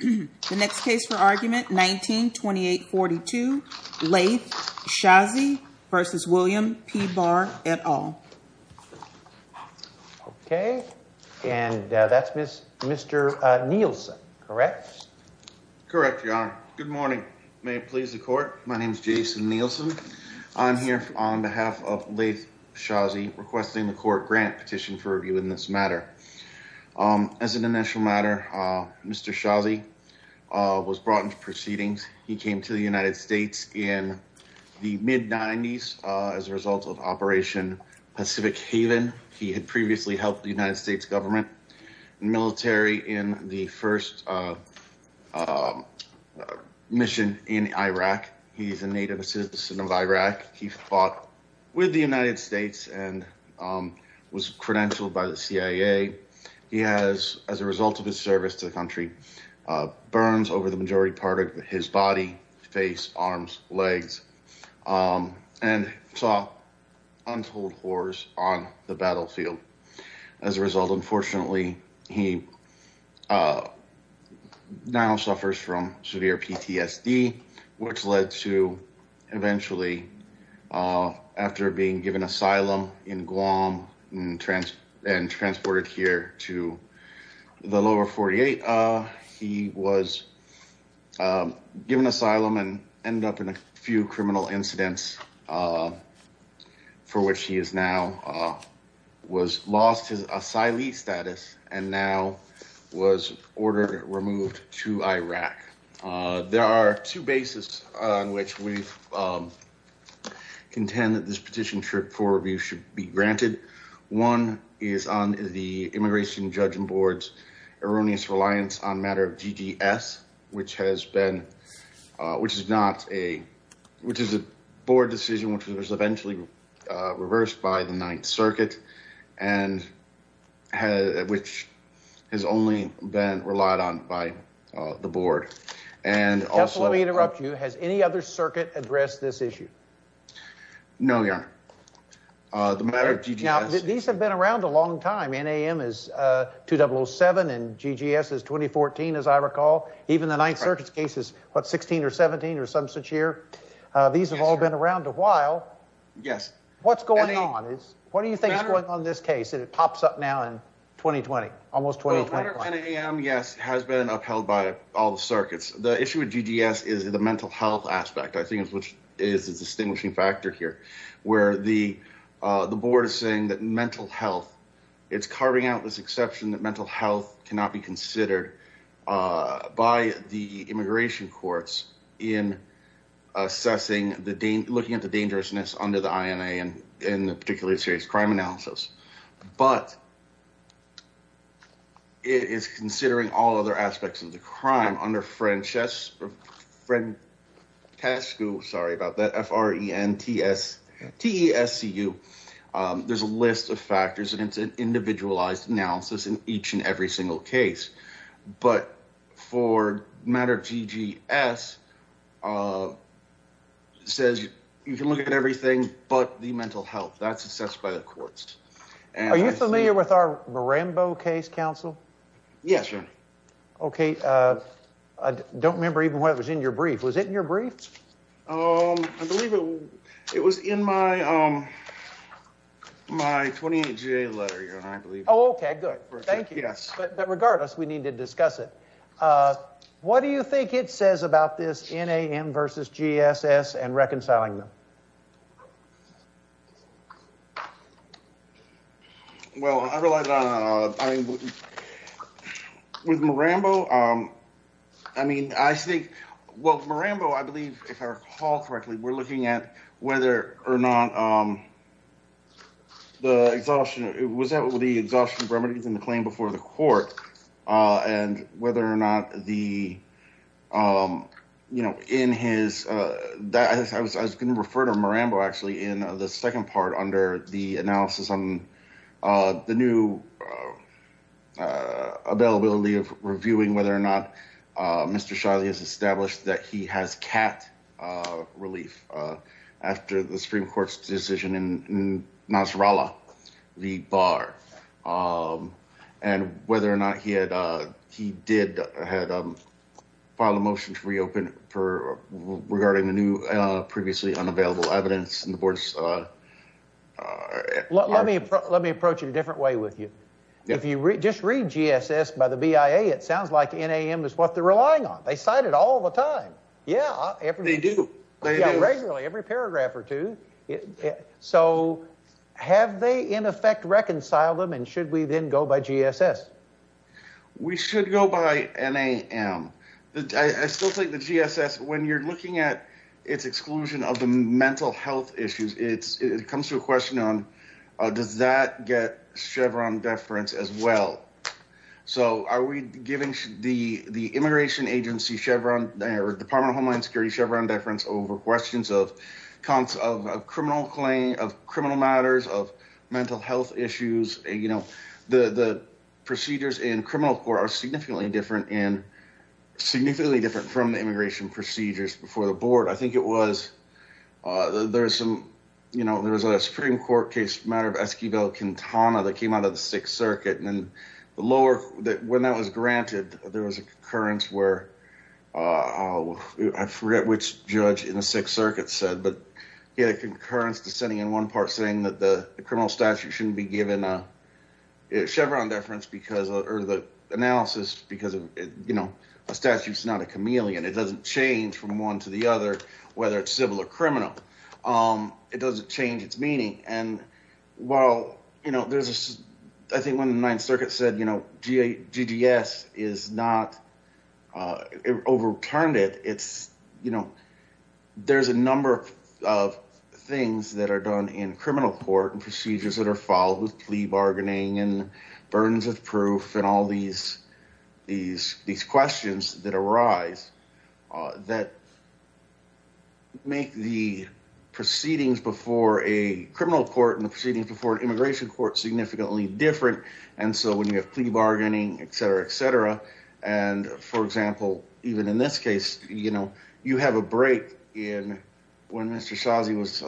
The next case for argument 19-2842, Laith Shazi v. William P. Barr, et al. Okay, and that's Mr. Nielsen, correct? Correct, your honor. Good morning. May it please the court, my name is Jason Nielsen. I'm here on behalf of Laith Shazi requesting the court grant petition for review in this matter. As an initial matter, Mr. Shazi was brought into proceedings. He came to the United States in the mid-90s as a result of Operation Pacific Haven. He had previously helped the United States government and military in the first mission in Iraq. He's a native citizen of Iraq. He fought with the United States and was credentialed by the CIA. He has, as a result of his service to the country, burns over the majority part of his body, face, arms, legs, and saw untold horrors on the battlefield. As a result, unfortunately, he now suffers from severe PTSD, which led to eventually, after being given asylum in Guam and transported here to the lower 48, he was given asylum and ended up in a few criminal incidents for which he has now lost his asylee status and now was ordered removed to Iraq. There are two bases on which we contend that this petition for review should be granted. One is on the Immigration Judging Board's erroneous reliance on a matter of GDS, which is a board decision which was eventually reversed by the Ninth Circuit, which has only been relied on by the board. Just let me interrupt you. Has any other circuit addressed this issue? No, Your Honor. Now, these have been around a long time. NAM is 2007 and GGS is 2014, as I recall. Even the Ninth Circuit's case is, what, 16 or 17 or some such year? These have all been around a while. Yes. What's going on? What do you think is going on in this case? It pops up now in 2020, almost 2020. The matter of NAM, yes, has been upheld by all the circuits. The issue with GGS is the mental health aspect, I think, which is a distinguishing factor here, where the board is saying that mental health, it's carving out this exception that mental health cannot be considered by the immigration courts in assessing, looking at the dangerousness under the INA and in particularly serious crime analysis. But it is considering all other aspects of the crime under FRENTESCU. Sorry about that. F-R-E-N-T-S-T-E-S-C-U. There's a list of factors and it's an individualized analysis in each and every single case. But for matter of GGS, it says you can look at everything but the mental health. That's assessed by the courts. Are you familiar with our Marambo case, counsel? Yes, sir. Okay. I don't remember even what was in your brief. Was it in your brief? I believe it was in my 28 GA letter. Oh, okay. Good. Thank you. But regardless, we need to discuss it. What do you think it says about this NAM versus GSS and reconciling them? Well, I relied on, I mean, with Marambo, I mean, I think, well, Marambo, I believe, if I recall correctly, we're looking at whether or not the exhaustion, was that what the exhaustion remedies in the claim before the court, and whether or not the, you know, in his, I was going to refer to Marambo, actually, in the second part under the analysis on the new availability of reviewing whether or not Mr. Shiley has established that he has cat relief after the Supreme Court's decision in Nasrallah, the bar, and whether or not he did file a motion to reopen regarding the new previously unavailable evidence in the board's. Let me approach it a different way with you. If you just read GSS by the BIA, it sounds like NAM is what they're relying on. They cite it all the time. Yeah. They do. Regularly, every paragraph or two. So have they, in effect, reconciled them, and should we then go by GSS? We should go by NAM. I still think the GSS, when you're looking at its exclusion of the mental health issues, it comes to a question on, does that get Chevron deference as well? So are we giving the immigration agency Chevron or Department of Homeland Security Chevron deference over questions of criminal matters, of mental health issues? You know, the procedures in criminal court are significantly different from the immigration procedures before the board. I think it was there was some, you know, there was a Supreme Court case matter of Esquivel-Quintana that came out of the Sixth Circuit. And then the lower that when that was granted, there was a concurrence where I forget which judge in the Sixth Circuit said, but he had a concurrence dissenting in one part saying that the criminal statute shouldn't be given a Chevron deference because or the analysis because, you know, a statute is not a chameleon. It doesn't change from one to the other, whether it's civil or criminal. It doesn't change its meaning. And while, you know, there's I think when the Ninth Circuit said, you know, GGS is not overturned it, it's, you know, there's a number of things that are done in criminal court and procedures that are followed with plea bargaining and burdens of proof and all these, these, these questions that arise that make the proceedings before a criminal court and the proceedings before an immigration court significantly different. And so when you have plea bargaining, et cetera, et cetera, and, for example, even in this case, you know, you have a break in when Mr. Shazi was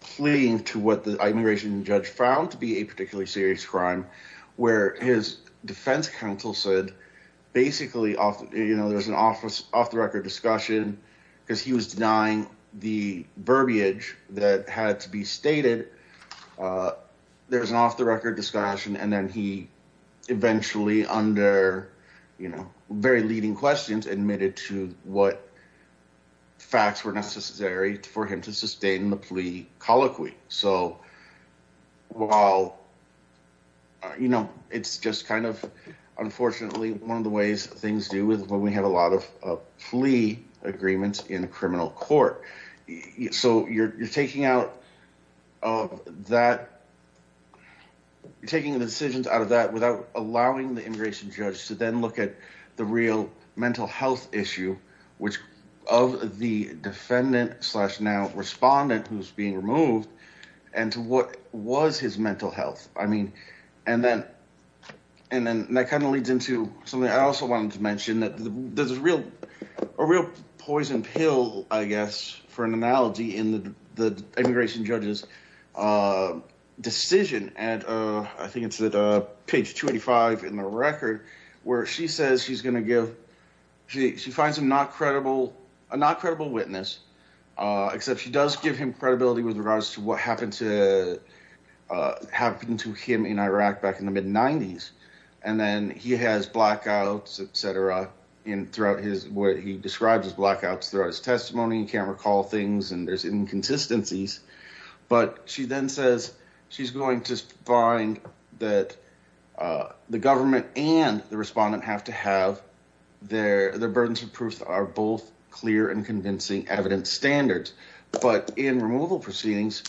pleading to what the immigration judge found to be a particularly serious crime where his defense counsel said, basically off, you know, there's an office off the record discussion because he was denying the verbiage that had to be stated. There's an off the record discussion and then he eventually under, you know, very leading questions admitted to what facts were necessary for him to sustain the plea colloquy. So, while, you know, it's just kind of, unfortunately, one of the ways things do with when we have a lot of plea agreements in criminal court. So you're taking out of that, taking the decisions out of that without allowing the immigration judge to then look at the real mental health issue, which of the defendant slash now respondent who's being removed and to what was his mental health. I mean, and then and then that kind of leads into something I also wanted to mention that there's a real a real poison pill, I guess, for an analogy in the immigration judges decision. I think it's that page 25 in the record where she says she's going to give she finds him not credible, a not credible witness, except she does give him credibility with regards to what happened to happen to him in Iraq back in the mid 90s. And then he has blackouts, etc. in throughout his what he describes as blackouts throughout his testimony and camera call things and there's inconsistencies. But she then says she's going to find that the government and the respondent have to have their their burdens of proof are both clear and convincing evidence standards. But in removal proceedings,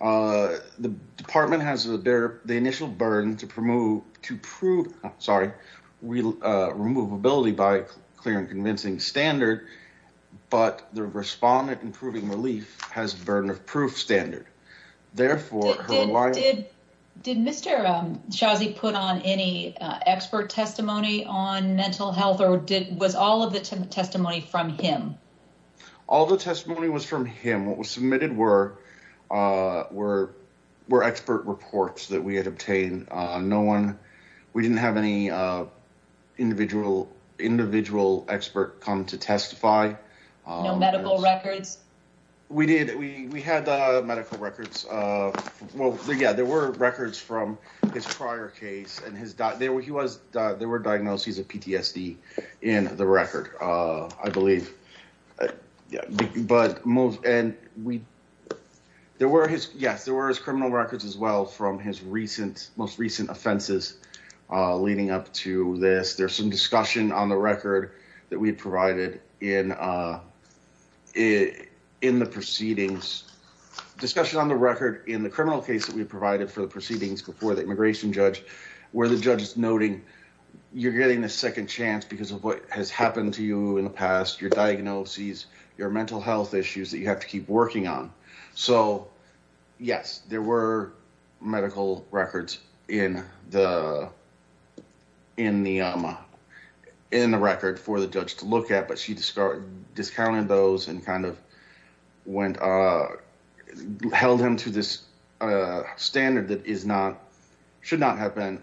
the department has the bear the initial burden to promote to prove sorry, we remove ability by clear and convincing standard. But the respondent improving relief has burden of proof standard. Therefore, why did did Mr. Shazi put on any expert testimony on mental health or did was all of the testimony from him? All the testimony was from him. What was submitted were were were expert reports that we had obtained. No one. We didn't have any individual individual expert come to testify. No medical records. We did. We had medical records. Well, yeah, there were records from his prior case and his dad. There he was. There were diagnoses of PTSD in the record, I believe. But most and we there were his. Yes, there was criminal records as well from his recent most recent offenses leading up to this. There's some discussion on the record that we provided in it in the proceedings. Discussion on the record in the criminal case that we provided for the proceedings before the immigration judge where the judge is noting you're getting a second chance because of what has happened to you in the past, your diagnoses, your mental health issues that you have to keep working on. So, yes, there were medical records in the in the in the record for the judge to look at. But she started discounting those and kind of went held him to this standard that is not should not have been.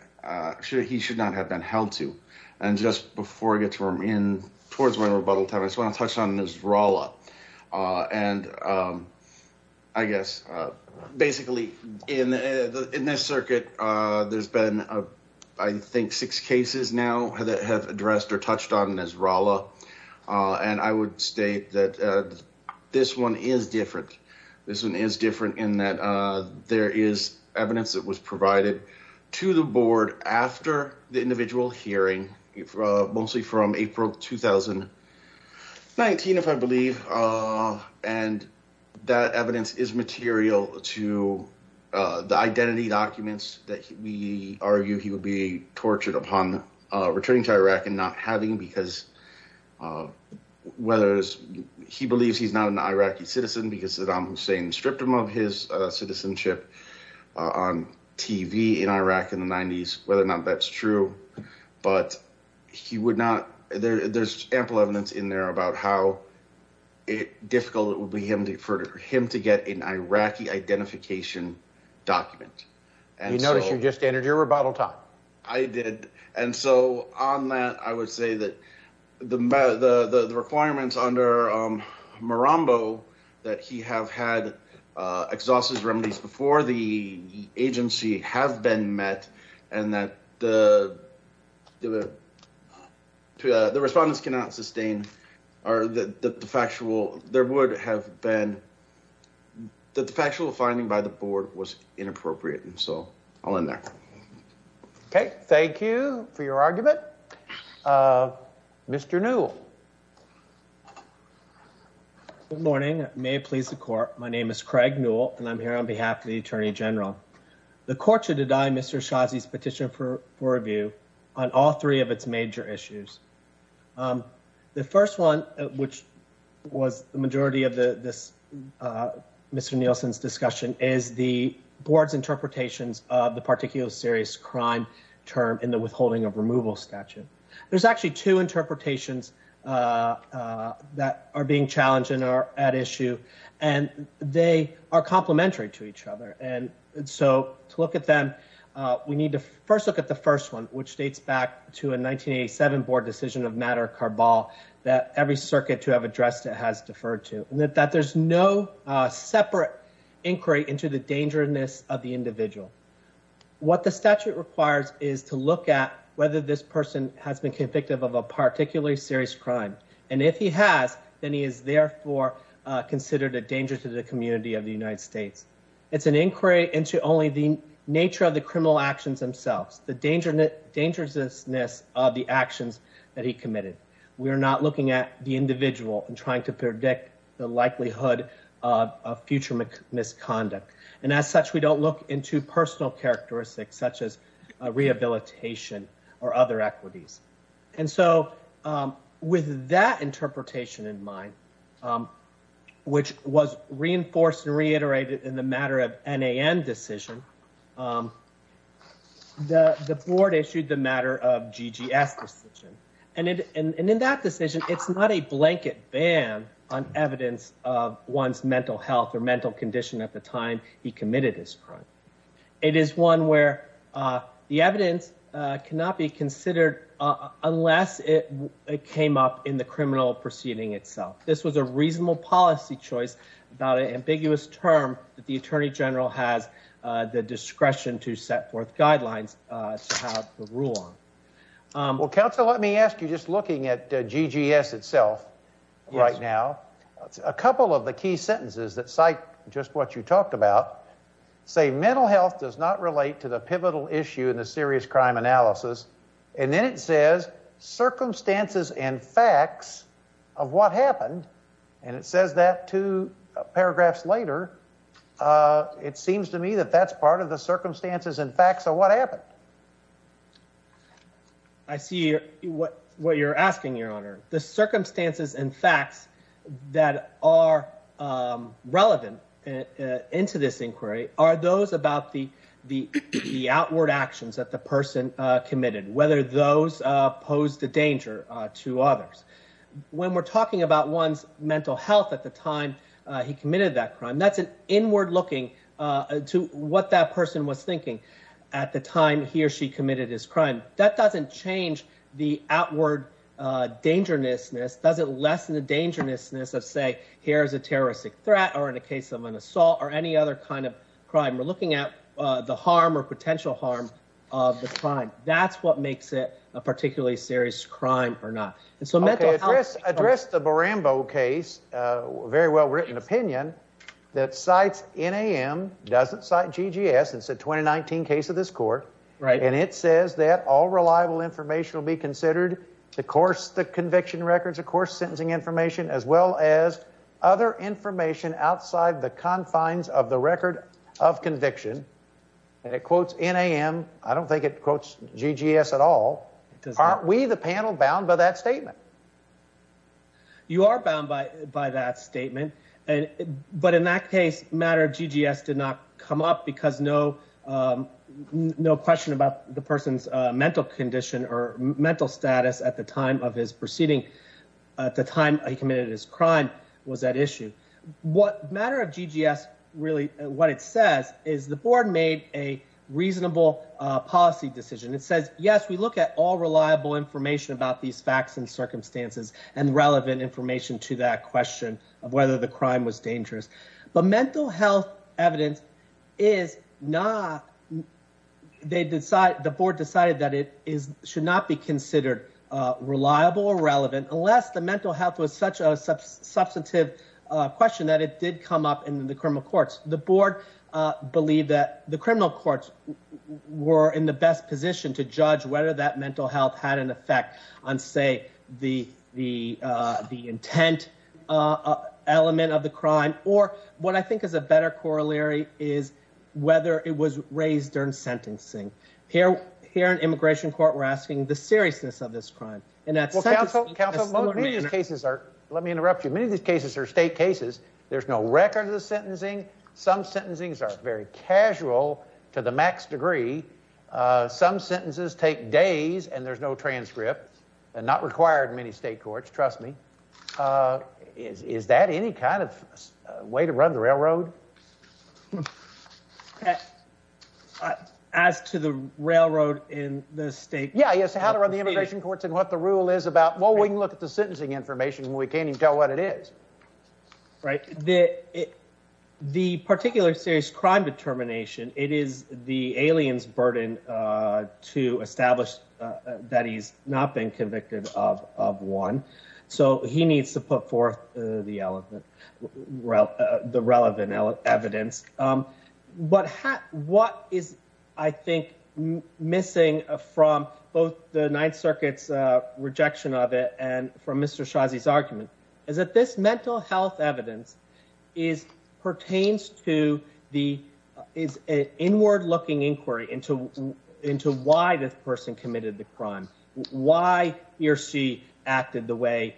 He should not have been held to. And just before I get to him in towards my rebuttal time, I just want to touch on this roll up and I guess basically in the in this circuit, there's been, I think, six cases now that have addressed or touched on as Rolla. And I would state that this one is different. This one is different in that there is evidence that was provided to the board after the individual hearing, mostly from April 2000. Nineteen, if I believe. And that evidence is material to the identity documents that we argue he would be tortured upon returning to Iraq and not having because of whether he believes he's not an Iraqi citizen because Saddam Hussein stripped him of his citizenship on TV in Iraq in the 90s. Whether or not that's true. But he would not. There's ample evidence in there about how difficult it would be for him to get an Iraqi identification document. And notice you just entered your rebuttal time. I did. And so on that, I would say that the the requirements under Marambo that he have had exhaustive remedies before the agency have been met. And that the the the respondents cannot sustain are that the factual there would have been the factual finding by the board was inappropriate. And so I'll end there. OK, thank you for your argument. Mr. New. Good morning. May it please the court. My name is Craig Newell, and I'm here on behalf of the attorney general. The court should deny Mr. Shazi's petition for review on all three of its major issues. The first one, which was the majority of this, Mr. Nielsen's discussion is the board's interpretations of the particular serious crime term in the withholding of removal statute. There's actually two interpretations that are being challenged and are at issue, and they are complementary to each other. And so to look at them, we need to first look at the first one, which dates back to a 1987 board decision of matter. That every circuit to have addressed it has deferred to that there's no separate inquiry into the dangerousness of the individual. What the statute requires is to look at whether this person has been convicted of a particularly serious crime, and if he has, then he is therefore considered a danger to the community of the United States. It's an inquiry into only the nature of the criminal actions themselves, the dangerousness of the actions that he committed. We are not looking at the individual and trying to predict the likelihood of future misconduct. And as such, we don't look into personal characteristics such as rehabilitation or other equities. And so with that interpretation in mind, which was reinforced and reiterated in the matter of decision. The board issued the matter of GGS decision, and in that decision, it's not a blanket ban on evidence of one's mental health or mental condition at the time he committed this crime. It is one where the evidence cannot be considered unless it came up in the criminal proceeding itself. This was a reasonable policy choice about an ambiguous term that the attorney general has the discretion to set forth guidelines to have the rule. Well, counsel, let me ask you, just looking at GGS itself right now, a couple of the key sentences that cite just what you talked about say mental health does not relate to the pivotal issue in the serious crime analysis. And then it says circumstances and facts of what happened. And it says that two paragraphs later, it seems to me that that's part of the circumstances and facts of what happened. I see what you're asking, Your Honor. The circumstances and facts that are relevant into this inquiry are those about the the outward actions that the person committed, whether those pose the danger to others. When we're talking about one's mental health at the time he committed that crime, that's an inward looking to what that person was thinking at the time he or she committed his crime. That doesn't change the outward dangerousness. Does it lessen the dangerousness of, say, here is a terroristic threat or in a case of an assault or any other kind of crime? We're looking at the harm or potential harm of the crime. That's what makes it a particularly serious crime or not. It's a mental address. Address the Barambo case. Very well written opinion that cites in a.m. Doesn't cite G.G.S. It's a twenty nineteen case of this court. Right. And it says that all reliable information will be considered. Of course, the conviction records, of course, sentencing information as well as other information outside the confines of the record of conviction. And it quotes in a.m. I don't think it quotes G.G.S. at all. Aren't we the panel bound by that statement? You are bound by by that statement. But in that case, matter of G.G.S. did not come up because no no question about the person's mental condition or mental status at the time of his proceeding. At the time he committed his crime was that issue. What matter of G.G.S. really what it says is the board made a reasonable policy decision. It says, yes, we look at all reliable information about these facts and circumstances and relevant information to that question of whether the crime was dangerous. But mental health evidence is not. They decide the board decided that it is should not be considered reliable or relevant unless the mental health was such a substantive question that it did come up in the criminal courts. The board believed that the criminal courts were in the best position to judge whether that mental health had an effect on, say, the the the intent element of the crime. Or what I think is a better corollary is whether it was raised during sentencing here. Here in immigration court, we're asking the seriousness of this crime. And that's what counsel counsel cases are. Let me interrupt you. Many of these cases are state cases. There's no record of the sentencing. Some sentencings are very casual to the max degree. Some sentences take days and there's no transcript and not required in many state courts. Trust me. Is that any kind of way to run the railroad? As to the railroad in the state. Yeah. Yes. How to run the immigration courts and what the rule is about. Well, we can look at the sentencing information. We can't even tell what it is. Right. The particular serious crime determination, it is the aliens burden to establish that he's not been convicted of one. So he needs to put forth the elephant route, the relevant evidence. But what is I think missing from both the Ninth Circuit's rejection of it? And from Mr. Shazi's argument is that this mental health evidence is pertains to the is inward looking inquiry into into why this person committed the crime. Why he or she acted the way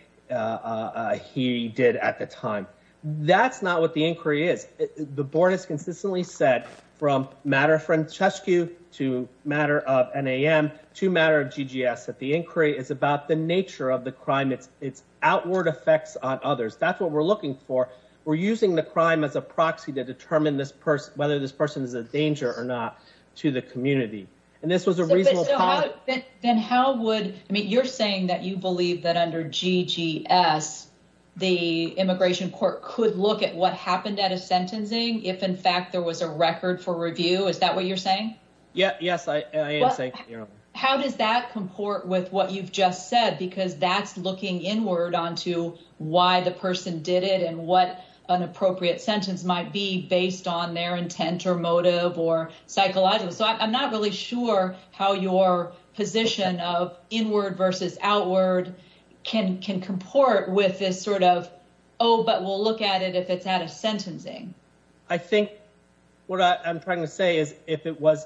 he did at the time. That's not what the inquiry is. The board has consistently said from matter of Francesco to matter of an a.m. to matter of G.G.S. that the inquiry is about the nature of the crime. It's it's outward effects on others. That's what we're looking for. We're using the crime as a proxy to determine this person, whether this person is a danger or not to the community. And this was a reason. Then how would I mean, you're saying that you believe that under G.G.S., the immigration court could look at what happened at a sentencing if, in fact, there was a record for review. Is that what you're saying? Yeah. Yes. How does that comport with what you've just said? Because that's looking inward onto why the person did it and what an appropriate sentence might be based on their intent or motive or psychological. So I'm not really sure how your position of inward versus outward can can comport with this sort of. Oh, but we'll look at it if it's at a sentencing. I think what I'm trying to say is if it was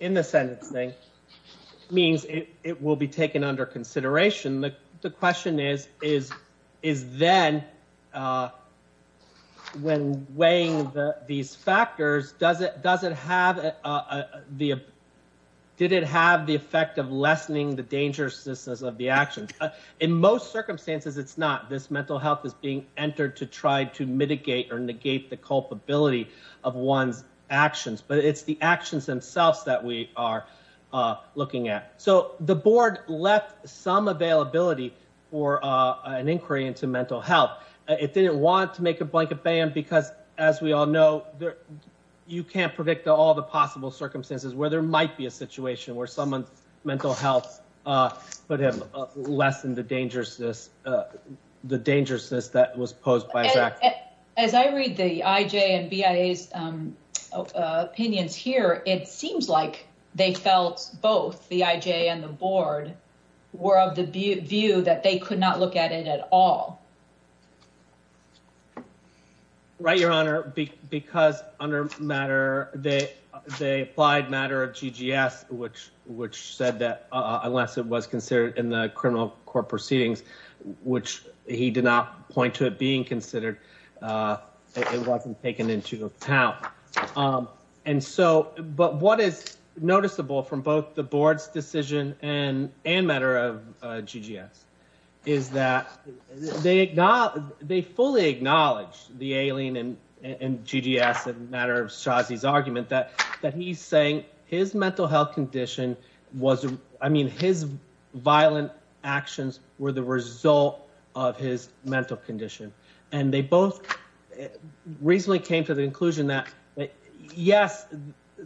in the sentencing means it will be taken under consideration. The question is, is is then when weighing these factors, does it does it have the did it have the effect of lessening the dangerousness of the actions? In most circumstances, it's not this mental health is being entered to try to mitigate or negate the culpability of one's actions. But it's the actions themselves that we are looking at. So the board left some availability for an inquiry into mental health. It didn't want to make a blanket ban because, as we all know, you can't predict all the possible circumstances where there might be a situation where someone's mental health. But have lessened the dangerousness, the dangerousness that was posed by as I read the IJ and BIA's opinions here, it seems like they felt both the IJ and the board were of the view that they could not look at it at all. Right, Your Honor, because under matter that they applied matter of GGS, which which said that unless it was considered in the criminal court proceedings, which he did not point to it being considered, it wasn't taken into account. And so but what is noticeable from both the board's decision and and matter of GGS is that they they fully acknowledge the alien and GGS and matter of Shazi's argument that that he's saying his mental health condition was I mean, his violent actions were the result of his mental condition. And they both recently came to the conclusion that, yes,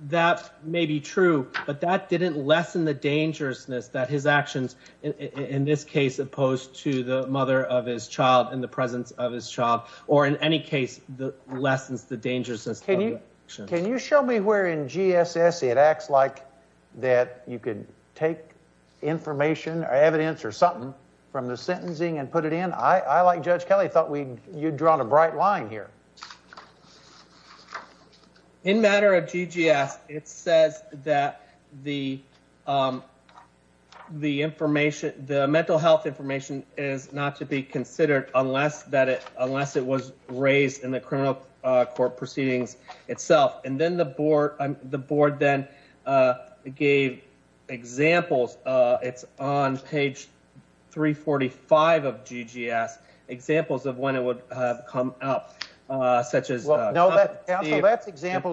that may be true, but that didn't lessen the dangerousness that his actions in this case opposed to the mother of his child in the presence of his child or in any case, the lessons, the dangerousness. Can you can you show me where in GSS it acts like that you could take information or evidence or something from the sentencing and put it in? I like Judge Kelly thought we you'd drawn a bright line here. In matter of GGS, it says that the. That's examples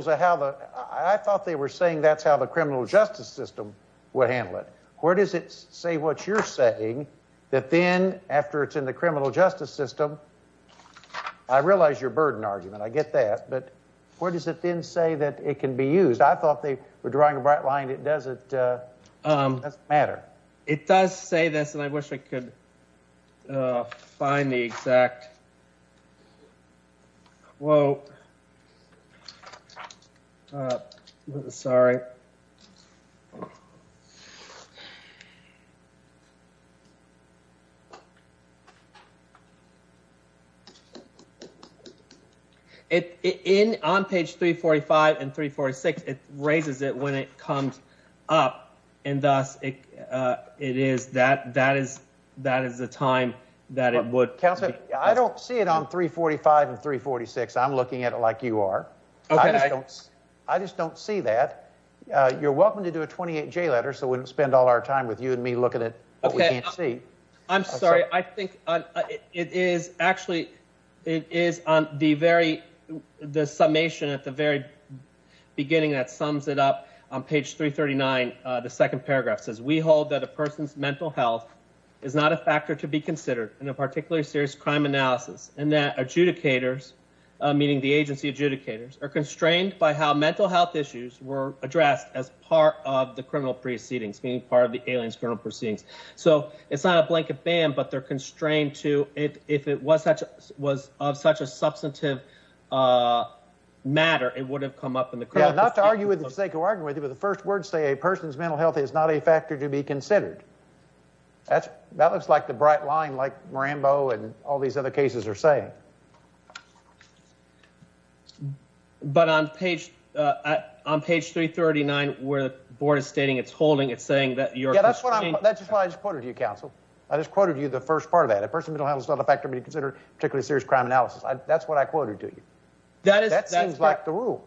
of how the I thought they were saying that's how the criminal justice system would handle it. Where does it say what you're saying that then after it's in the criminal justice system? I realize your burden argument. I get that. But where does it then say that it can be used? I thought they were drawing a bright line. It doesn't matter. It does say this, and I wish I could find the exact. Well. Sorry. It's in on page 345 and 346. It raises it when it comes up, and thus it is that that is that is the time that it would counsel. I don't see it on 345 and 346. I'm looking at it like you are. I just don't see that you're welcome to do a 28 J letter, so we don't spend all our time with you and me looking at. I'm sorry. I think it is actually it is on the very the summation at the very beginning that sums it up on page 339. The second paragraph says we hold that a person's mental health. Is not a factor to be considered in a particularly serious crime analysis and that adjudicators, meaning the agency adjudicators are constrained by how mental health issues were addressed as part of the criminal proceedings being part of the aliens criminal proceedings. So it's not a blanket ban, but they're constrained to it. If it was such was of such a substantive matter, it would have come up in the crowd. And not to argue with the sake of arguing with you, but the first word say a person's mental health is not a factor to be considered. That's that looks like the bright line like Rambo and all these other cases are saying. But on page on page 339 where the board is stating it's holding. It's saying that you're that's what I'm that's why I just put it to you. Counsel. I just quoted you the first part of that a person's mental health is not a factor to be considered particularly serious crime analysis. That's what I quoted to you. That is that seems like the rule.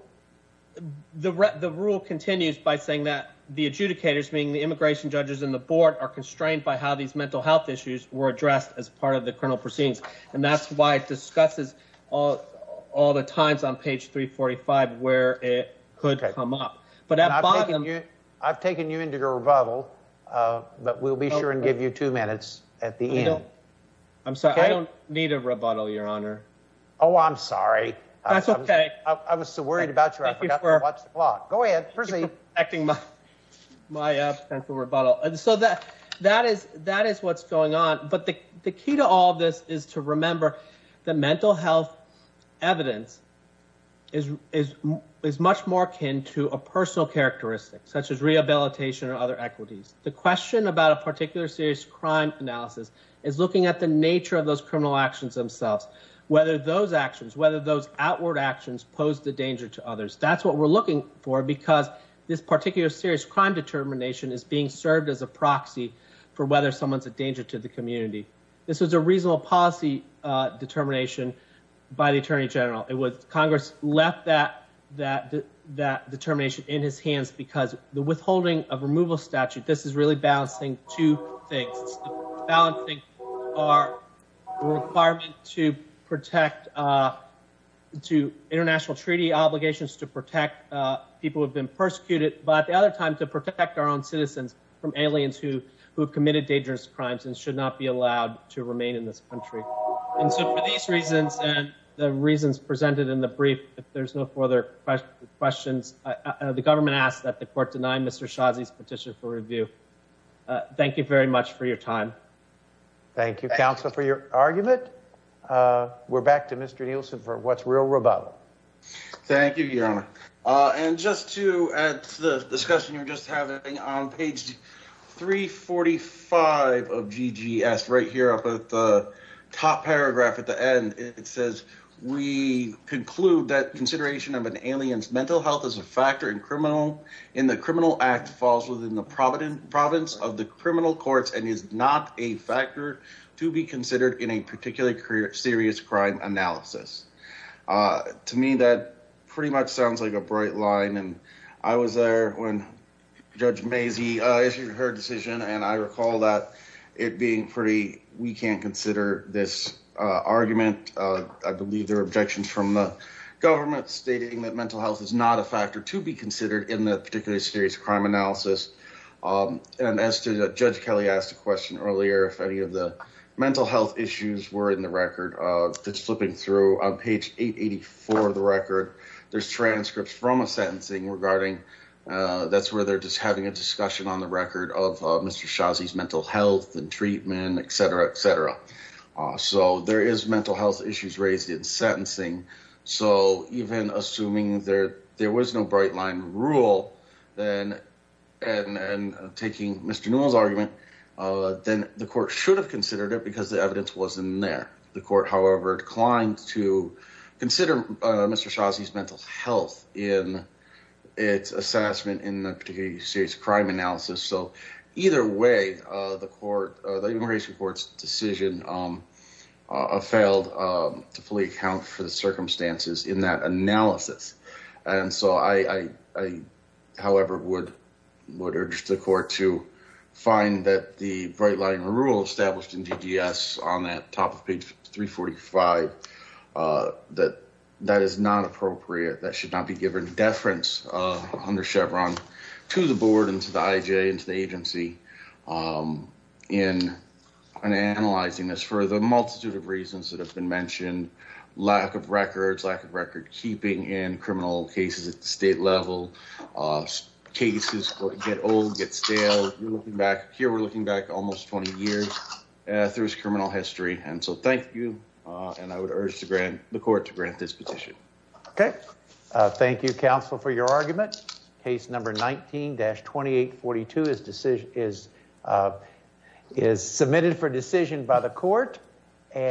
The the rule continues by saying that the adjudicators, meaning the immigration judges in the board are constrained by how these mental health issues were addressed as part of the criminal proceedings. And that's why it discusses all all the times on page 345 where it could come up. But I've taken you into your rebuttal, but we'll be sure and give you two minutes at the end. I'm sorry. I don't need a rebuttal. Your honor. Oh, I'm sorry. That's okay. I was so worried about you. I forgot to watch the vlog. Go ahead. Acting my my up and for rebuttal. And so that that is that is what's going on. But the key to all of this is to remember the mental health evidence. Is is is much more akin to a personal characteristic such as rehabilitation or other equities. The question about a particular serious crime analysis is looking at the nature of those criminal actions themselves, whether those actions, whether those outward actions pose the danger to others. That's what we're looking for, because this particular serious crime determination is being served as a proxy for whether someone's a danger to the community. This is a reasonable policy determination by the attorney general. It was Congress left that that that determination in his hands because the withholding of removal statute. This is really balancing two things. Balancing our requirement to protect to international treaty obligations to protect people have been persecuted. But the other time to protect our own citizens from aliens who who have committed dangerous crimes and should not be allowed to remain in this country. And so for these reasons and the reasons presented in the brief, if there's no further questions, the government asked that the court denied Mr. Shazi's petition for review. Thank you very much for your time. Thank you, counsel, for your argument. We're back to Mr. Nielsen for what's real about. Thank you. And just to add to the discussion you're just having on page three forty five of GGS right here at the top paragraph at the end. It says we conclude that consideration of an alien's mental health as a factor in criminal in the criminal act falls within the province province of the criminal courts and is not a factor to be considered in a particular career. Serious crime analysis. To me, that pretty much sounds like a bright line. And I was there when Judge Masey issued her decision. And I recall that it being pretty. We can't consider this argument. I believe there are objections from the government stating that mental health is not a factor to be considered in that particular serious crime analysis. And as to Judge Kelly asked a question earlier, if any of the mental health issues were in the record that's flipping through on page eight eighty four of the record. There's transcripts from a sentencing regarding that's where they're just having a discussion on the record of Mr. Shazi's mental health and treatment, et cetera, et cetera. So there is mental health issues raised in sentencing. So even assuming there there was no bright line rule, then and taking Mr. Newell's argument, then the court should have considered it because the evidence wasn't there. The court, however, declined to consider Mr. Shazi's mental health in its assessment in the particular serious crime analysis. So either way, the court, the immigration court's decision failed to fully account for the circumstances in that analysis. And so I, however, would would urge the court to find that the bright line rule established in DDS on that top of page three forty five that that is not appropriate. That should not be given deference under Chevron to the board and to the IJ and to the agency in an analyzing this for the multitude of reasons that have been mentioned. Lack of records, lack of record keeping in criminal cases at the state level. Cases get old, get stale back here. We're looking back almost 20 years through his criminal history. And so thank you. And I would urge to grant the court to grant this petition. OK, thank you, counsel, for your argument. Case number 19 dash. Twenty eight. Forty two is decision is is submitted for decision by the court.